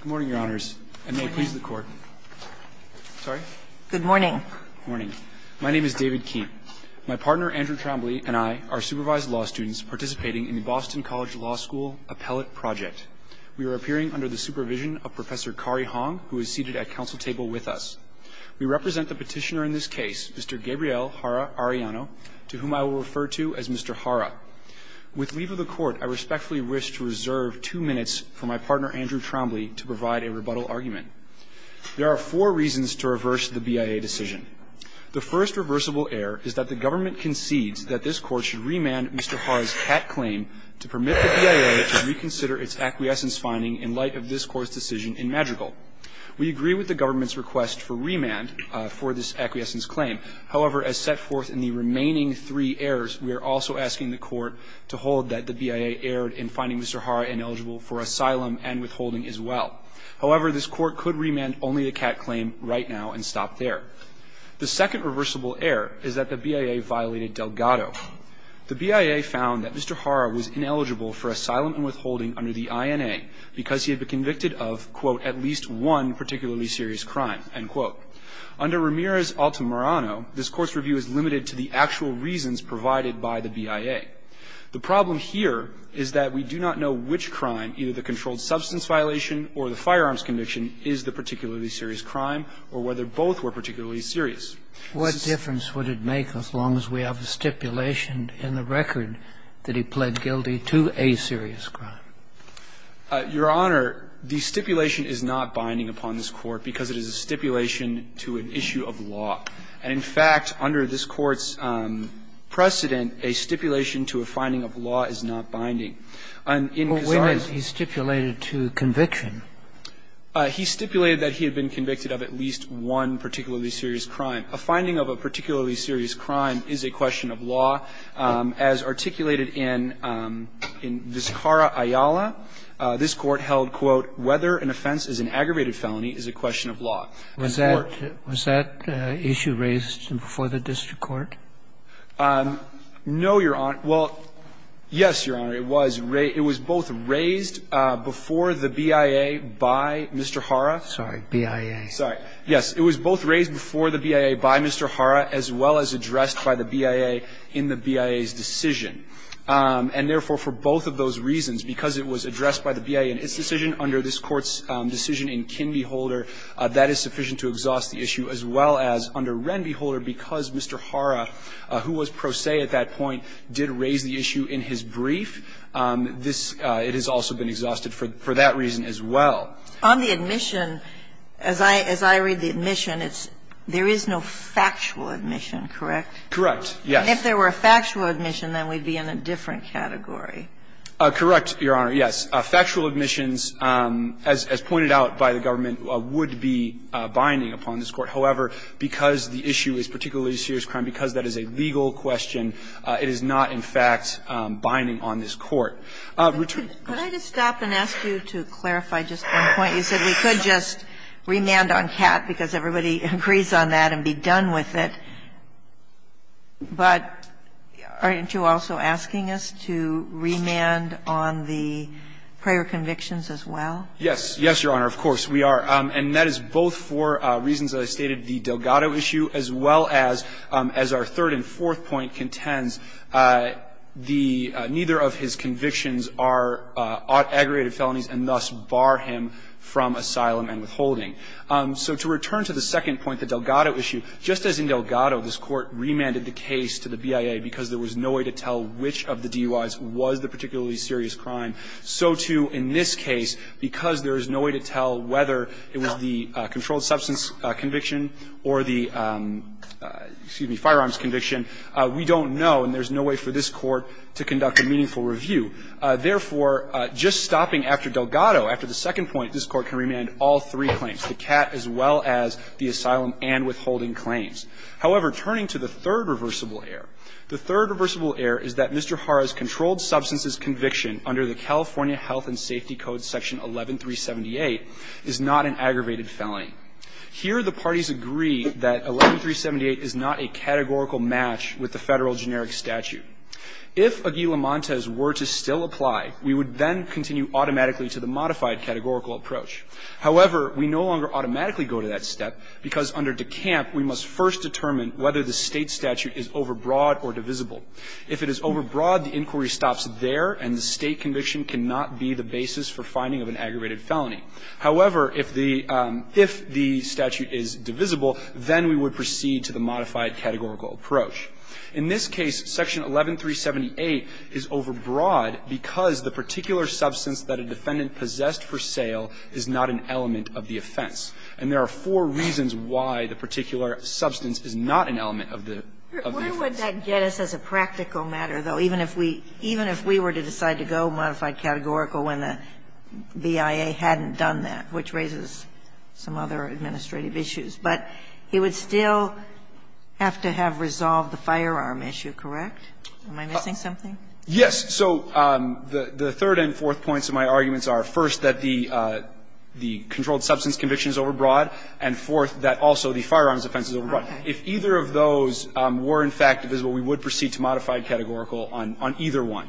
Good morning, Your Honors, and may it please the Court. Sorry? Good morning. Good morning. My name is David Keene. My partner, Andrew Trombley, and I are supervised law students participating in the Boston College Law School Appellate Project. We are appearing under the supervision of Professor Kari Hong, who is seated at council table with us. We represent the petitioner in this case, Mr. Gabriel Jara-Arellano, to whom I will refer to as Mr. Jara. With leave of the Court, I respectfully wish to reserve two minutes for my partner, Andrew Trombley, to provide a rebuttal argument. There are four reasons to reverse the BIA decision. The first reversible error is that the government concedes that this Court should remand Mr. Jara's cat claim to permit the BIA to reconsider its acquiescence finding in light of this Court's decision in Madrigal. We agree with the government's request for remand for this acquiescence claim. However, as set forth in the remaining three errors, we are also asking the Court to hold that the BIA erred in finding Mr. Jara ineligible for asylum and withholding as well. However, this Court could remand only the cat claim right now and stop there. The second reversible error is that the BIA violated Delgado. The BIA found that Mr. Jara was ineligible for asylum and withholding under the INA because he had been convicted of, quote, at least one particularly serious crime, end quote. Under Ramirez-Altamirano, this Court's review is limited to the actual reasons provided by the BIA. The problem here is that we do not know which crime, either the controlled substance violation or the firearms conviction, is the particularly serious crime or whether both were particularly serious. This is a serious crime. What difference would it make as long as we have a stipulation in the record that he pled guilty to a serious crime? Your Honor, the stipulation is not binding upon this Court because it is a stipulation to an issue of law. And, in fact, under this Court's precedent, a stipulation to a finding of law is not binding. And in Kazar's case he stipulated to conviction. He stipulated that he had been convicted of at least one particularly serious crime. A finding of a particularly serious crime is a question of law. As articulated in Vizcarra-Ayala, this Court held, quote, whether an offense is an aggravated felony is a question of law. And so the stipulation is not binding. The problem here is that we do not know which crime, either the controlled substance violation or the firearms conviction, is the particularly serious crime. As articulated in Vizcarra-Ayala, this Court held, quote, whether an offense is an aggravated felony is a question of law. And so the stipulation is not binding upon this Court. And in fact, under this Court's precedent, a stipulation to a finding of law is a question of law. And so the Court held that the statute is sufficient to exhaust the issue, as well as under Renby Holder, because Mr. Hara, who was pro se at that point, did raise the issue in his brief. This has also been exhausted for that reason as well. On the admission, as I read the admission, it's there is no factual admission, correct? Correct. Yes. And if there were a factual admission, then we'd be in a different category. Correct, Your Honor. Yes. As pointed out by the government, it would be binding upon this Court. However, because the issue is particularly serious crime, because that is a legal question, it is not, in fact, binding on this Court. Could I just stop and ask you to clarify just one point? You said we could just remand on Catt because everybody agrees on that and be done with it. But aren't you also asking us to remand on the prior convictions as well? Yes. Yes, Your Honor. Of course we are. And that is both for reasons that I stated, the Delgado issue, as well as our third and fourth point contends the neither of his convictions are aggregated felonies and thus bar him from asylum and withholding. So to return to the second point, the Delgado issue, just as in Delgado this Court remanded the case to the BIA because there was no way to tell which of the DUIs was the particularly serious crime, so, too, in this case, because there is no way to tell whether it was the controlled substance conviction or the, excuse me, firearms conviction, we don't know, and there's no way for this Court to conduct a meaningful review. Therefore, just stopping after Delgado, after the second point, this Court can remand all three claims, the Catt as well as the asylum and withholding claims. However, turning to the third reversible error, the third reversible error is that Mr. Jara's controlled substances conviction under the California Health and Safety Code section 11378 is not an aggravated felony. Here, the parties agree that 11378 is not a categorical match with the Federal generic statute. If Aguila Montes were to still apply, we would then continue automatically to the modified categorical approach. However, we no longer automatically go to that step because under DeCamp, we must first determine whether the State statute is overbroad or divisible. If it is overbroad, the inquiry stops there, and the State conviction cannot be the basis for finding of an aggravated felony. However, if the statute is divisible, then we would proceed to the modified categorical approach. In this case, section 11378 is overbroad because the particular substance that a defendant possessed for sale is not an element of the offense. And there are four reasons why the particular substance is not an element of the offense. Sotomayor, where would that get us as a practical matter, though, even if we were to decide to go modified categorical when the BIA hadn't done that, which raises some other administrative issues? But he would still have to have resolved the firearm issue, correct? Am I missing something? Yes. So the third and fourth points of my arguments are, first, that the controlled substance conviction is overbroad, and fourth, that also the firearms offense is overbroad. If either of those were, in fact, divisible, we would proceed to modified categorical on either one.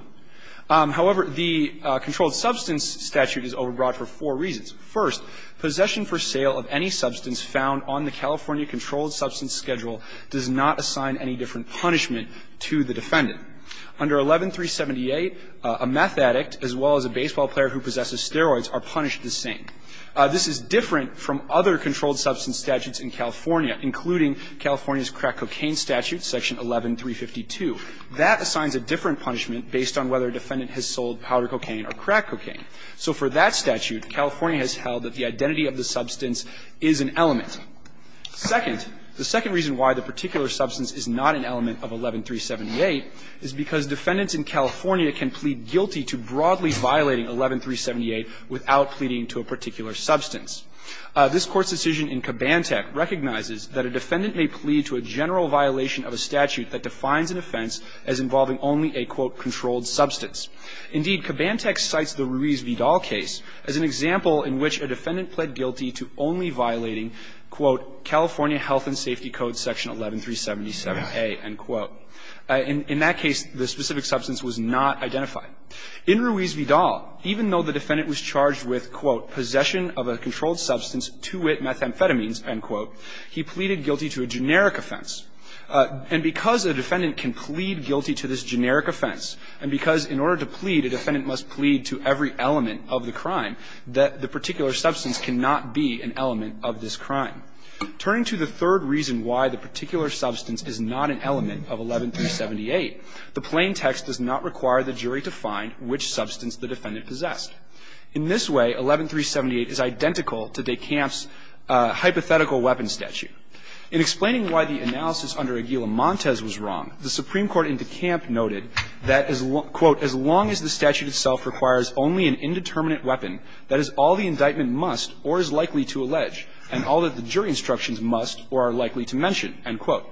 However, the controlled substance statute is overbroad for four reasons. First, possession for sale of any substance found on the California controlled substance schedule does not assign any different punishment to the defendant. Under 11378, a meth addict as well as a baseball player who possesses steroids are punished the same. This is different from other controlled substance statutes in California, including California's crack cocaine statute, section 11352. That assigns a different punishment based on whether a defendant has sold powder cocaine or crack cocaine. So for that statute, California has held that the identity of the substance is an element. Second, the second reason why the particular substance is not an element of 11378 is because defendants in California can plead guilty to broadly violating 11378 without pleading to a particular substance. This Court's decision in Kabantech recognizes that a defendant may plead to a general violation of a statute that defines an offense as involving only a, quote, controlled substance. Indeed, Kabantech cites the Ruiz-Vidal case as an example in which a defendant pled guilty to only violating, quote, California Health and Safety Code, section 11377a, end quote. In that case, the specific substance was not identified. In Ruiz-Vidal, even though the defendant was charged with, quote, possession of a controlled substance, 2-wit methamphetamines, end quote, he pleaded guilty to a generic offense. And because a defendant can plead guilty to this generic offense and because in order to plead, a defendant must plead to every element of the crime, the particular substance cannot be an element of this crime. Turning to the third reason why the particular substance is not an element of 11378, the plain text does not require the jury to find which substance the defendant possessed. In this way, 11378 is identical to de Kamp's hypothetical weapon statute. In explaining why the analysis under Aguila-Montes was wrong, the Supreme Court in de Kamp noted that, quote, as long as the statute itself requires only an indeterminate weapon, that is, all the indictment must or is likely to allege, and all that the jury instructions must or are likely to mention, end quote.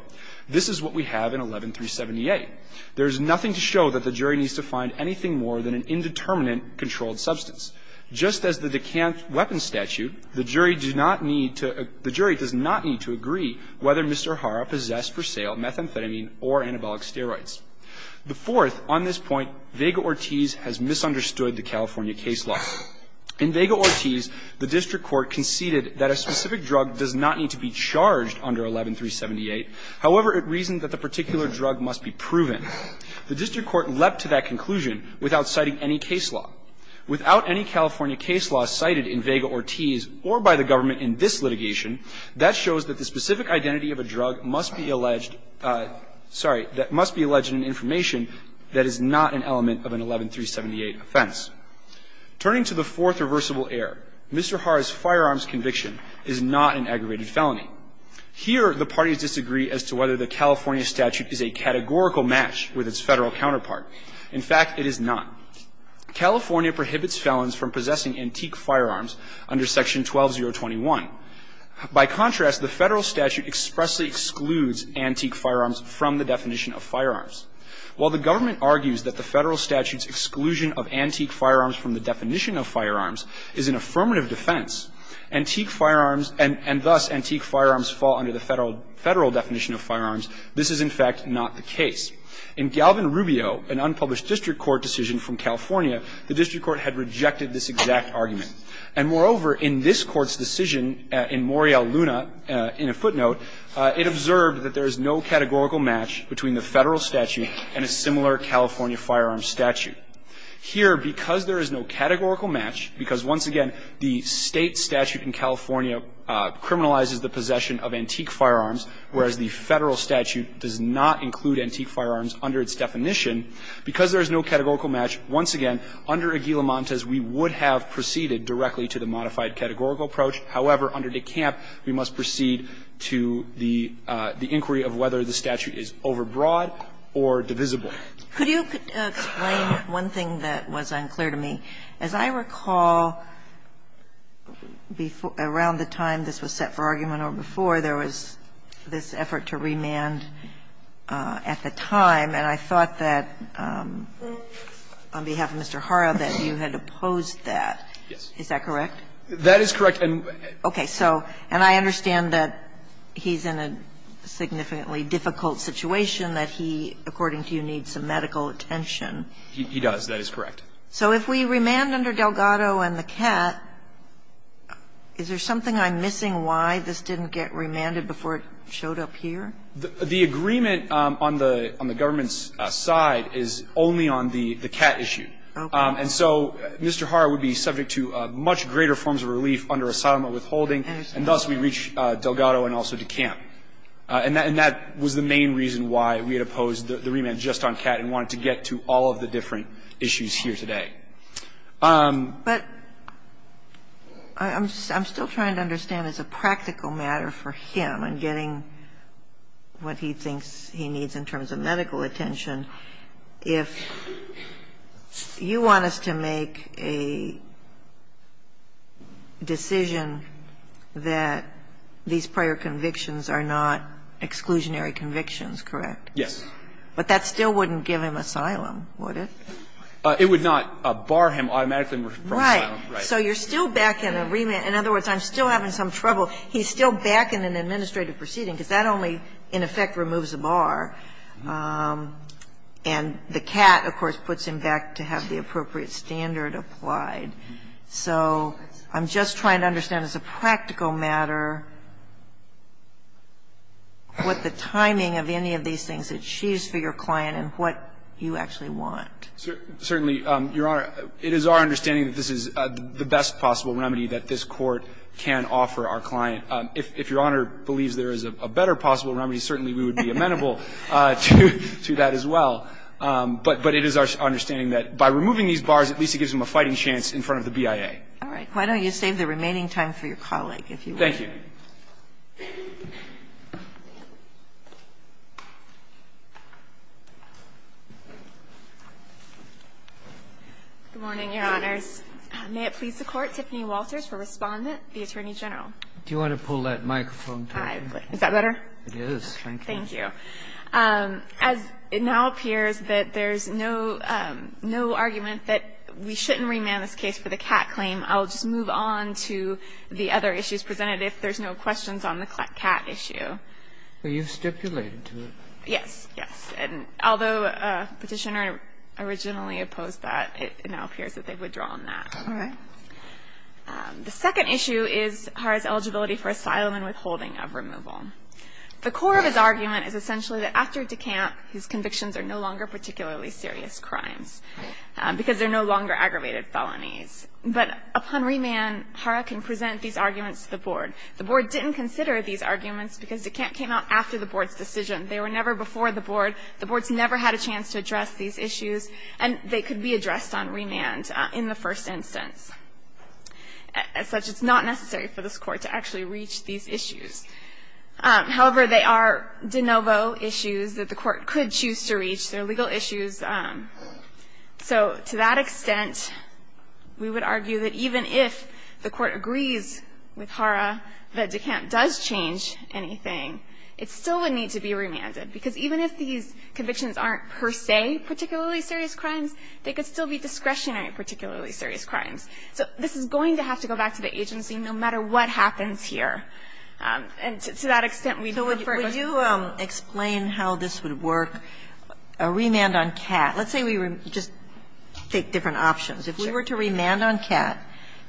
This is what we have in 11378. There is nothing to show that the jury needs to find anything more than an indeterminate controlled substance. Just as the de Kamp weapon statute, the jury does not need to agree whether Mr. Hara possessed for sale methamphetamine or anabolic steroids. The fourth, on this point, Vega-Ortiz has misunderstood the California case law. In Vega-Ortiz, the district court conceded that a specific drug does not need to be charged under 11378. However, it reasoned that the particular drug must be proven. The district court leapt to that conclusion without citing any case law. Without any California case law cited in Vega-Ortiz or by the government in this litigation, that shows that the specific identity of a drug must be alleged – sorry – that must be alleged in information that is not an element of an 11378 offense. Turning to the fourth reversible error, Mr. Hara's firearms conviction is not an aggravated felony. Here, the parties disagree as to whether the California statute is a categorical match with its Federal counterpart. In fact, it is not. California prohibits felons from possessing antique firearms under Section 12021. By contrast, the Federal statute expressly excludes antique firearms from the definition of firearms. While the government argues that the Federal statute's exclusion of antique firearms from the definition of firearms is an affirmative defense, antique firearms and thus antique firearms fall under the Federal definition of firearms, this is, in fact, not the case. In Galvin-Rubio, an unpublished district court decision from California, the district court had rejected this exact argument. And moreover, in this Court's decision in Morial Luna, in a footnote, it observed that there is no categorical match between the Federal statute and a similar California firearms statute. Here, because there is no categorical match, because once again, the State statute in California criminalizes the possession of antique firearms, whereas the Federal statute does not include antique firearms under its definition, because there is no categorical match, once again, under Aguilamontes, we would have proceeded directly to the modified categorical approach. However, under DeCamp, we must proceed to the inquiry of whether the statute is overbroad or divisible. Kagan. Could you explain one thing that was unclear to me? As I recall, around the time this was set for argument or before, there was this effort to remand at the time, and I thought that, on behalf of Mr. Hara, that you had opposed that. Is that correct? That is correct. Okay. So, and I understand that he's in a significantly difficult situation, that he, according to you, needs some medical attention. He does. That is correct. So if we remand under Delgado and the cat, is there something I'm missing why this didn't get remanded before it showed up here? The agreement on the government's side is only on the cat issue. Okay. And so Mr. Hara would be subject to much greater forms of relief under asylum withholding, and thus we reach Delgado and also DeCamp. And that was the main reason why we had opposed the remand just on cat and wanted to get to all of the different issues here today. But I'm still trying to understand as a practical matter for him in getting what he thinks he needs in terms of medical attention, if you want us to make a decision that these prior convictions are not exclusionary convictions, correct? Yes. But that still wouldn't give him asylum, would it? It would not bar him automatically from asylum. Right. So you're still backing a remand. In other words, I'm still having some trouble. He's still backing an administrative proceeding, because that only in effect removes a bar. And the cat, of course, puts him back to have the appropriate standard applied. So I'm just trying to understand as a practical matter what the timing of any of these things that she's for your client and what you actually want. Certainly, Your Honor, it is our understanding that this is the best possible remedy that this Court can offer our client. If Your Honor believes there is a better possible remedy, certainly we would be amenable to that as well. But it is our understanding that by removing these bars, at least it gives him a fighting chance in front of the BIA. All right. Why don't you save the remaining time for your colleague, if you will. Thank you. Good morning, Your Honors. May it please the Court, Tiffany Walters for Respondent, the Attorney General. Do you want to pull that microphone down? Is that better? It is. Thank you. As it now appears that there's no argument that we shouldn't remand this case for the cat claim, I'll just move on to the other issues presented. If there's no questions on the cat issue. Were you stipulated to it? Yes. Yes. And although Petitioner originally opposed that, it now appears that they've withdrawn that. All right. The second issue is Hara's eligibility for asylum and withholding of removal. The core of his argument is essentially that after decamp, his convictions are no longer particularly serious crimes, because they're no longer aggravated felonies. But upon remand, Hara can present these arguments to the Board. The Board didn't consider these arguments because decamp came out after the Board's decision. They were never before the Board. The Board's never had a chance to address these issues, and they could be addressed on remand in the first instance. As such, it's not necessary for this Court to actually reach these issues. However, they are de novo issues that the Court could choose to reach. They're legal issues. So to that extent, we would argue that even if the Court agrees with Hara that decamp does change anything, it still would need to be remanded, because even if these convictions aren't per se particularly serious crimes, they could still be discretionary particularly serious crimes. So this is going to have to go back to the agency no matter what happens here. And to that extent, we do refer to the Board. Sotomayor, could you explain how this would work, a remand on Catt? Let's say we just take different options. If we were to remand on Catt,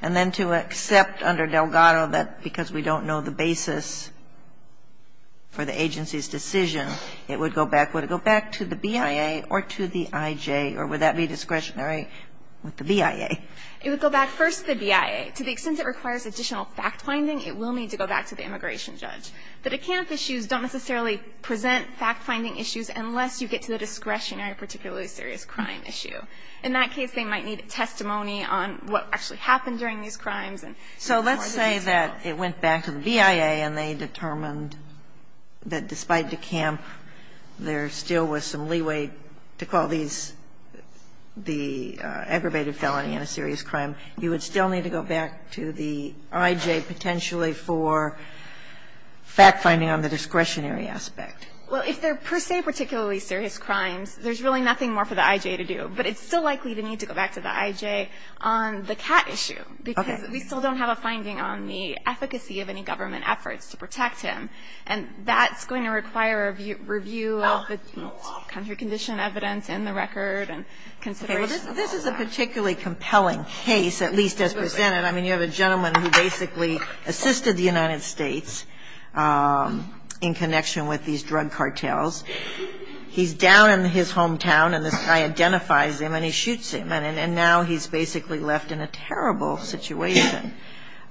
and then to accept under Delgado that because we don't know the basis for the agency's decision, it would go back, would it go back to the BIA or to the IJ, or would that be discretionary with the BIA? It would go back first to the BIA. To the extent it requires additional fact-finding, it will need to go back to the immigration judge. The decamp issues don't necessarily present fact-finding issues unless you get to the discretionary particularly serious crime issue. In that case, they might need testimony on what actually happened during these crimes and more than usual. So let's say that it went back to the BIA and they determined that despite decamp, there still was some leeway to call these the aggravated felony in a serious crime. You would still need to go back to the IJ potentially for fact-finding on the discretionary aspect. Well, if they're per se particularly serious crimes, there's really nothing more for the IJ to do. But it's still likely to need to go back to the IJ on the Catt issue. Okay. Because we still don't have a finding on the efficacy of any government efforts to protect him. And that's going to require a review of the country condition evidence and the record and consideration of all that. This is a particularly compelling case, at least as presented. I mean, you have a gentleman who basically assisted the United States in connection with these drug cartels. He's down in his hometown and this guy identifies him and he shoots him. And now he's basically left in a terrible situation.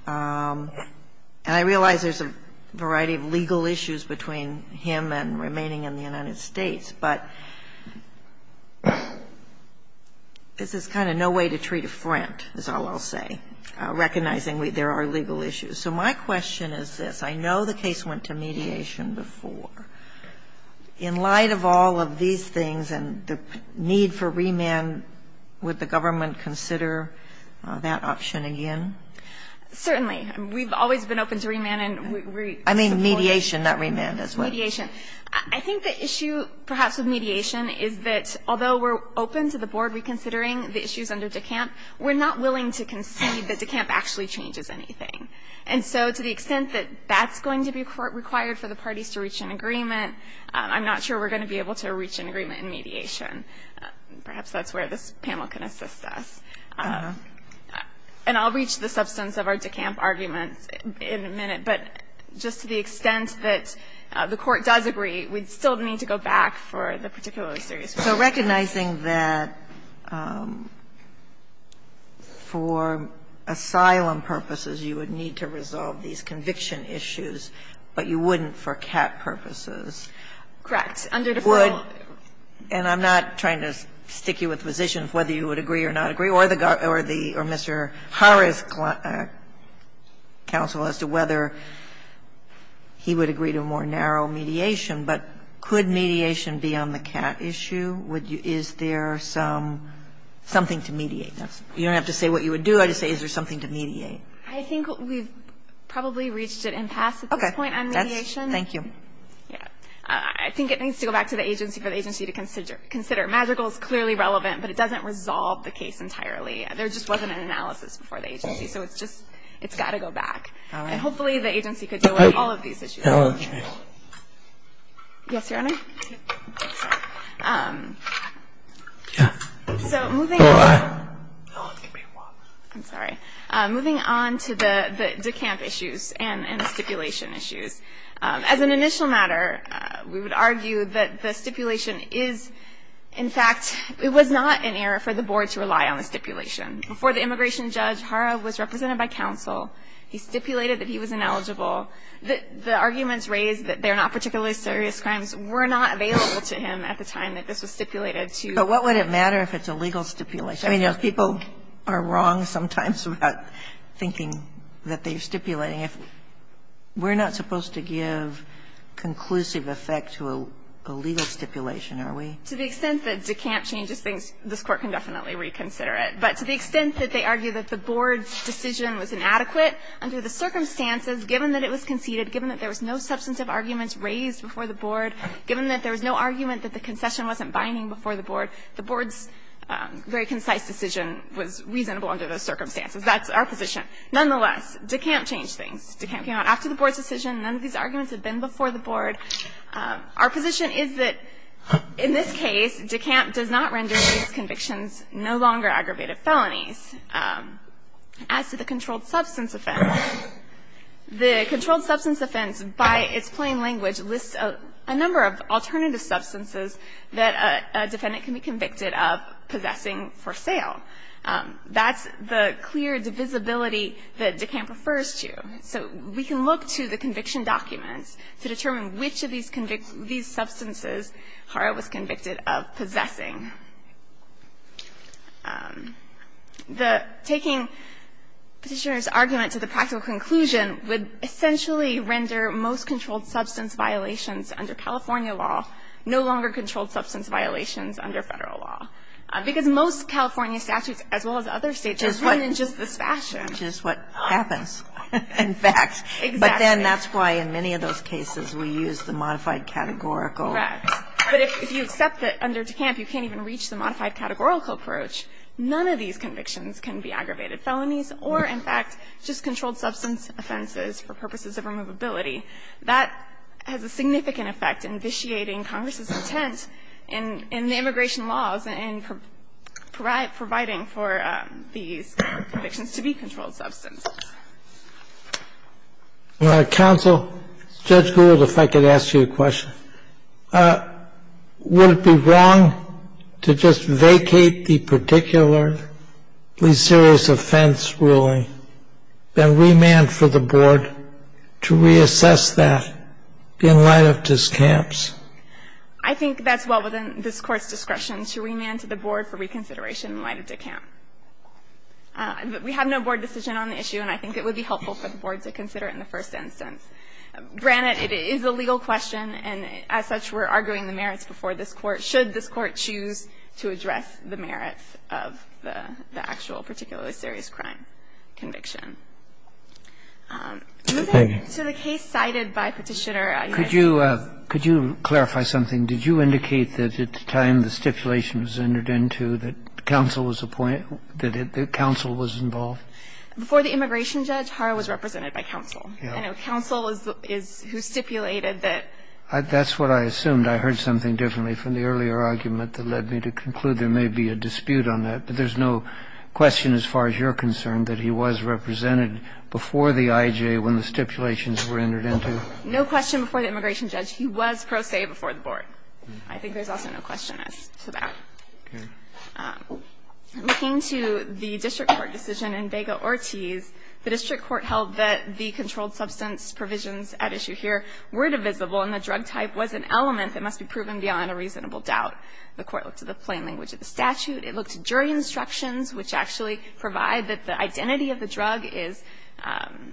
And I realize there's a variety of legal issues between him and remaining in the United States. But this is kind of no way to treat a friend, is all I'll say, recognizing there are legal issues. So my question is this. I know the case went to mediation before. In light of all of these things and the need for remand, would the government consider that option again? Certainly. We've always been open to remand and we're supportive. I mean mediation, not remand. That's what it is. Mediation. I think the issue perhaps with mediation is that although we're open to the board reconsidering the issues under DECAMP, we're not willing to concede that DECAMP actually changes anything. And so to the extent that that's going to be required for the parties to reach an agreement, I'm not sure we're going to be able to reach an agreement in mediation. Perhaps that's where this panel can assist us. And I'll reach the substance of our DECAMP arguments in a minute. But just to the extent that the Court does agree, we still need to go back for the particularly serious cases. So recognizing that for asylum purposes you would need to resolve these conviction issues, but you wouldn't for CAP purposes. Correct. Under the formal. And I'm not trying to stick you with positions whether you would agree or not agree or Mr. Harris, counsel, as to whether he would agree to more narrow mediation. But could mediation be on the CAP issue? Is there something to mediate? You don't have to say what you would do. I just say is there something to mediate? I think we've probably reached an impasse at this point on mediation. Okay. Thank you. I think it needs to go back to the agency for the agency to consider. MAGICAL is clearly relevant, but it doesn't resolve the case entirely. There just wasn't an analysis before the agency. So it's just, it's got to go back. And hopefully the agency could deal with all of these issues. Yes, Your Honor. So moving on to the DECAMP issues and stipulation issues. As an initial matter, we would argue that the stipulation is, in fact, it was not an error for the board to rely on the stipulation. Before the immigration judge, Harav was represented by counsel. He stipulated that he was ineligible. The arguments raised that they're not particularly serious crimes were not available to him at the time that this was stipulated to. But what would it matter if it's a legal stipulation? I mean, people are wrong sometimes about thinking that they're stipulating. We're not supposed to give conclusive effect to a legal stipulation, are we? To the extent that DECAMP changes things, this Court can definitely reconsider it. But to the extent that they argue that the board's decision was inadequate, under the circumstances, given that it was conceded, given that there was no substantive arguments raised before the board, given that there was no argument that the concession wasn't binding before the board, the board's very concise decision was reasonable under those circumstances. That's our position. Nonetheless, DECAMP changed things. DECAMP came out after the board's decision. None of these arguments have been before the board. Our position is that in this case, DECAMP does not render these convictions no longer aggravated felonies. As to the controlled substance offense, the controlled substance offense, by its plain language, lists a number of alternative substances that a defendant can be convicted of possessing for sale. That's the clear divisibility that DECAMP refers to. So we can look to the conviction documents to determine which of these substances Hara was convicted of possessing. The taking Petitioner's argument to the practical conclusion would essentially render most controlled substance violations under California law no longer controlled substance violations under Federal law. Because most California statutes, as well as other states, are written in just this fashion. Just what happens in fact. Exactly. But then that's why in many of those cases we use the modified categorical. Correct. But if you accept that under DECAMP you can't even reach the modified categorical approach, none of these convictions can be aggravated felonies or, in fact, just controlled substance offenses for purposes of removability. That has a significant effect in vitiating Congress's intent in the immigration laws and providing for these convictions to be controlled substance. Counsel, Judge Gould, if I could ask you a question. Would it be wrong to just vacate the particular serious offense ruling and remand for the board to reassess that in light of DECAMP's? I think that's well within this Court's discretion to remand to the board for reconsideration in light of DECAMP. We have no board decision on the issue, and I think it would be helpful for the board to consider it in the first instance. Granted, it is a legal question, and as such, we're arguing the merits before this Court, should this Court choose to address the merits of the actual particularly serious crime conviction. So the case cited by Petitioner U.S. Could you clarify something. Could you indicate that at the time, when the stipulation rendered into, that counsel was appointed? That counsel was involved? Before the immigration judge, Haro was represented by counsel. Council is who stipulated that That's what I assumed. I heard something differently from the earlier argument that led me to conclude there may be a dispute on that. But there is no question as far as you're concerned, that he was represented before the IJ when the stipulations were entered into? No question before the immigration judge, he was pro se before the board. I think there's also no question as to that. Okay. Looking to the district court decision in Vega Ortiz, the district court held that the controlled substance provisions at issue here were divisible and the drug type was an element that must be proven beyond a reasonable doubt. The court looked at the plain language of the statute. It looked at jury instructions, which actually provide that the identity of the drug is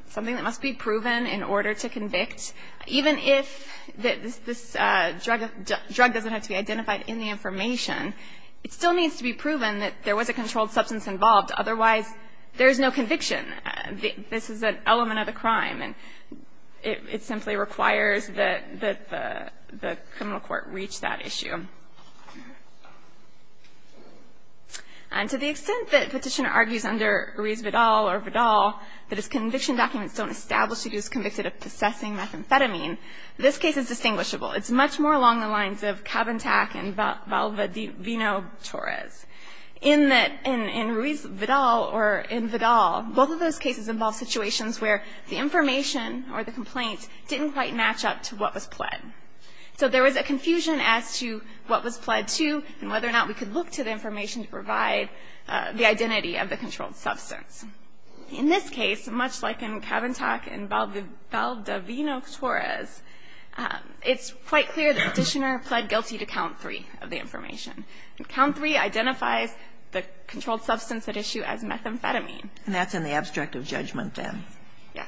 something that must be proven in order to convict. Even if this drug doesn't have to be identified in the information, it still needs to be proven that there was a controlled substance involved. Otherwise, there is no conviction. This is an element of the crime. And it simply requires that the criminal court reach that issue. And to the extent that Petitioner argues under Ruiz-Vidal or Vidal, that his conviction documents don't establish that he was convicted of possessing methamphetamine, this case is distinguishable. It's much more along the lines of Cabantac and Vino-Torres. In Ruiz-Vidal or in Vidal, both of those cases involve situations where the information or the complaint didn't quite match up to what was pled. So there was a confusion as to what was pled to and whether or not we could look to the information to provide the identity of the controlled substance. In this case, much like in Cabantac and Val-de-Vino-Torres, it's quite clear that Petitioner pled guilty to count three of the information. Count three identifies the controlled substance at issue as methamphetamine. And that's in the abstract of judgment, then. Yes.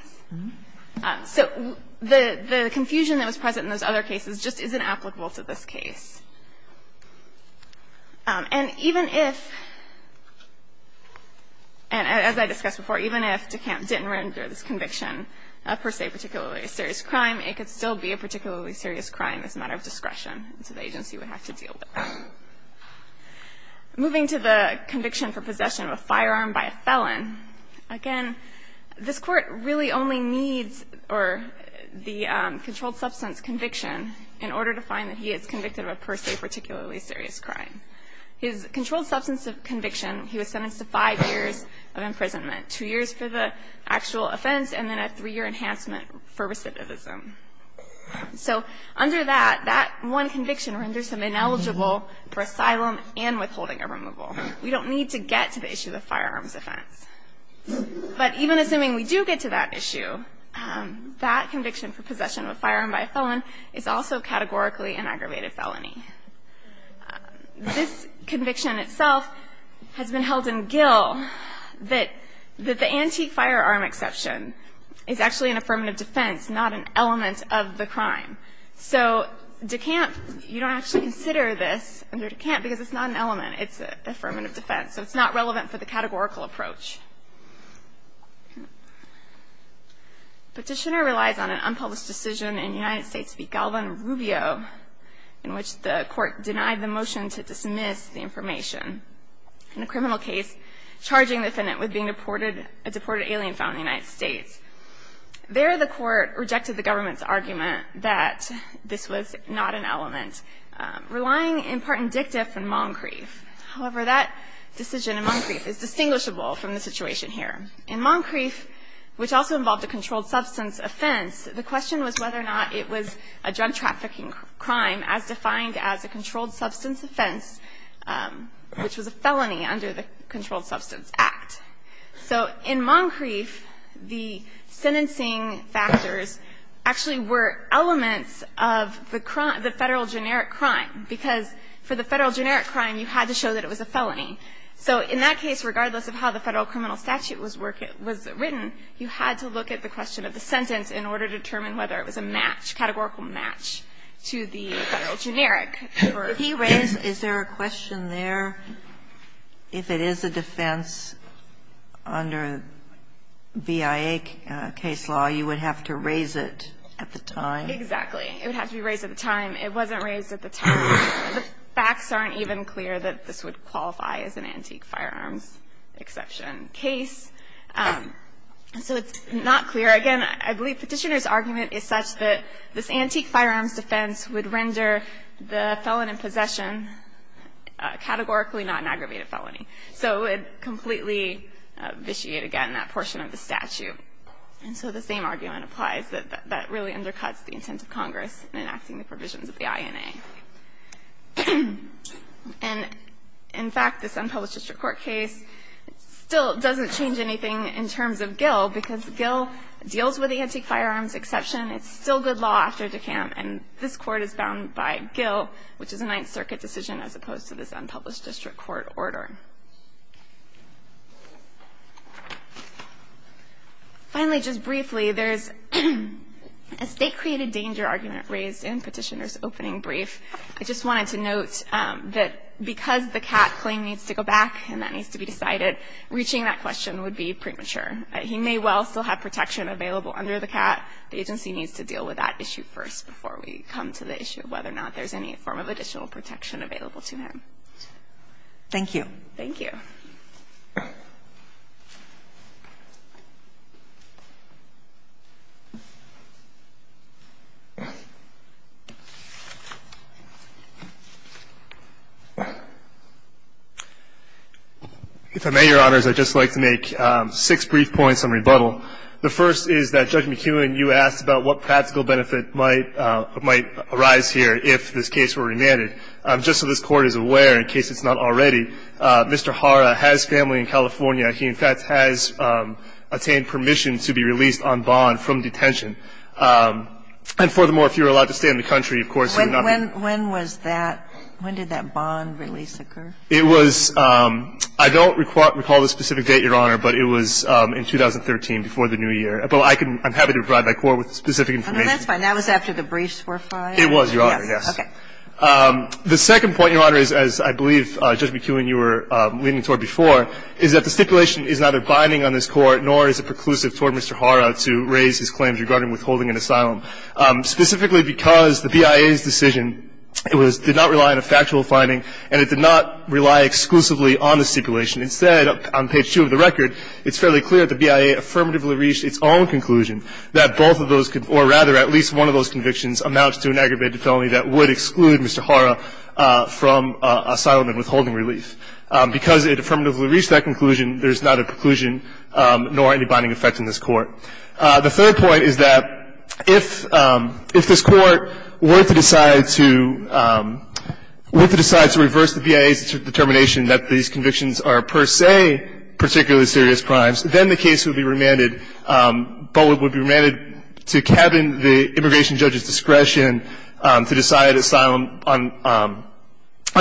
So the confusion that was present in those other cases just isn't applicable to this case. And even if, and as I discussed before, even if DeCamp didn't render this conviction, per se, a particularly serious crime, it could still be a particularly serious crime as a matter of discretion. So the agency would have to deal with it. Moving to the conviction for possession of a firearm by a felon, again, this court really only needs the controlled substance conviction in order to find that he is convicted of a, per se, particularly serious crime. His controlled substance conviction, he was sentenced to five years of imprisonment, two years for the actual offense, and then a three-year enhancement for recidivism. So under that, that one conviction renders him ineligible for asylum and withholding a removal. We don't need to get to the issue of firearms offense. But even assuming we do get to that issue, that conviction for an aggravated felony, this conviction itself has been held in gill that the anti-firearm exception is actually an affirmative defense, not an element of the crime. So DeCamp, you don't actually consider this under DeCamp because it's not an element, it's an affirmative defense, so it's not relevant for the categorical approach. Petitioner relies on an unpublished decision in United States v. Alvin Rubio, in which the court denied the motion to dismiss the information in a criminal case charging the defendant with being a deported alien found in the United States. There, the court rejected the government's argument that this was not an element, relying in part in Dictiff and Moncrief. However, that decision in Moncrief is distinguishable from the situation here. In Moncrief, which also involved a controlled substance offense, the question was whether or not it was a drug trafficking crime as defined as a controlled substance offense, which was a felony under the Controlled Substance Act. So in Moncrief, the sentencing factors actually were elements of the federal generic crime, because for the federal generic crime, you had to show that it was a felony. So in that case, regardless of how the federal criminal statute was written, you had to look at the question of the sentence in order to determine whether it was a match, categorical match, to the federal generic. Ginsburg. Kagan. If he raised, is there a question there, if it is a defense under BIA case law, you would have to raise it at the time? Exactly. It would have to be raised at the time. It wasn't raised at the time. The facts aren't even clear that this would qualify as an antique firearms exception case. So it's not clear. Again, I believe Petitioner's argument is such that this antique firearms defense would render the felon in possession categorically not an aggravated felony. So it would completely vitiate, again, that portion of the statute. And so the same argument applies, that that really undercuts the intent of Congress in enacting the provisions of the INA. And in fact, this unpublished district court case still doesn't change anything in terms of Gill, because Gill deals with the antique firearms exception. It's still good law after DeKalb, and this court is bound by Gill, which is a Ninth Circuit decision as opposed to this unpublished district court order. Finally, just briefly, there's a state-created danger argument raised in Petitioner's brief. I just wanted to note that because the cat claim needs to go back and that needs to be decided, reaching that question would be premature. He may well still have protection available under the cat. The agency needs to deal with that issue first before we come to the issue of whether or not there's any form of additional protection available to him. Thank you. Thank you. If I may, Your Honors, I'd just like to make six brief points on rebuttal. The first is that, Judge McKeown, you asked about what practical benefit might arise here if this case were remanded. Just so this Court is aware, in case it's not already, Mr. Hara has family in California. He, in fact, has attained permission to be released on bond from detention. And furthermore, if you're allowed to stay in the country, of course, you're not When was that? When did that bond release occur? It was – I don't recall the specific date, Your Honor, but it was in 2013, before the new year. But I can – I'm happy to provide my Court with specific information. That's fine. That was after the briefs were filed? It was, Your Honor, yes. Okay. The second point, Your Honor, is, as I believe, Judge McKeown, you were leaning toward before, is that the stipulation is neither binding on this Court nor is it preclusive toward Mr. Hara to raise his claims regarding withholding an asylum, specifically because the BIA's decision, it was – did not rely on a factual finding and it did not rely exclusively on the stipulation. Instead, on page 2 of the record, it's fairly clear that the BIA affirmatively reached its own conclusion that both of those – or rather, at least one of those convictions amounts to an aggravated felony that would exclude Mr. Hara from asylum and withholding relief. Because it affirmatively reached that conclusion, there's neither preclusion nor any binding effect in this Court. The third point is that if – if this Court were to decide to – were to decide to reverse the BIA's determination that these convictions are per se particularly serious crimes, then the case would be remanded – but would be remanded to cabin the immigration judge's discretion to decide asylum on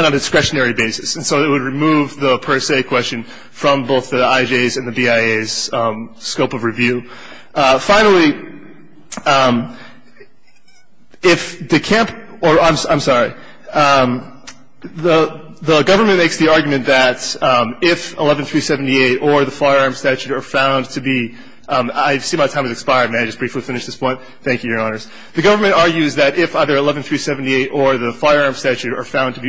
a discretionary basis. And so it would remove the per se question from both the IJ's and the BIA's scope of review. Finally, if the camp – or I'm – I'm sorry. The – the government makes the argument that if 11378 or the firearm statute are found to be – I see my time has expired. May I just briefly finish this point? Thank you, Your Honors. The government argues that if either 11378 or the firearm statute are found to be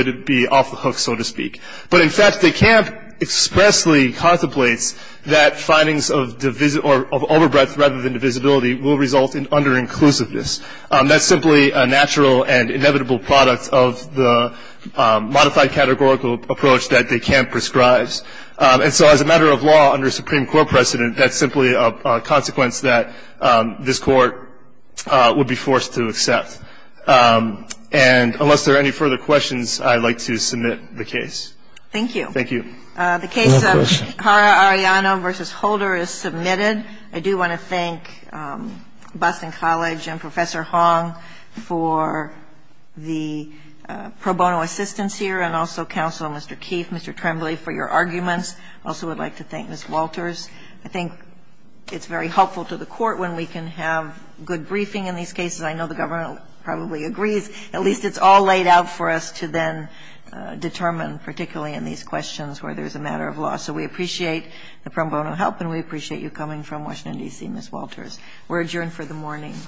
would be off the hook, so to speak. But in fact, the camp expressly contemplates that findings of – or of over-breath rather than divisibility will result in under-inclusiveness. That's simply a natural and inevitable product of the modified categorical approach that the camp prescribes. And so as a matter of law, under Supreme Court precedent, that's simply a consequence that this Court would be forced to accept. And unless there are any further questions, I'd like to submit the case. Thank you. Thank you. The case of Hara-Arellano v. Holder is submitted. I do want to thank Boston College and Professor Hong for the pro bono assistance here and also Counselor Mr. Keefe, Mr. Tremblay for your arguments. I also would like to thank Ms. Walters. I think it's very helpful to the Court when we can have good briefing in these cases. I know the government probably agrees. At least it's all laid out for us to then determine, particularly in these questions where there's a matter of law. So we appreciate the pro bono help and we appreciate you coming from Washington, D.C., Ms. Walters. We're adjourned for the morning.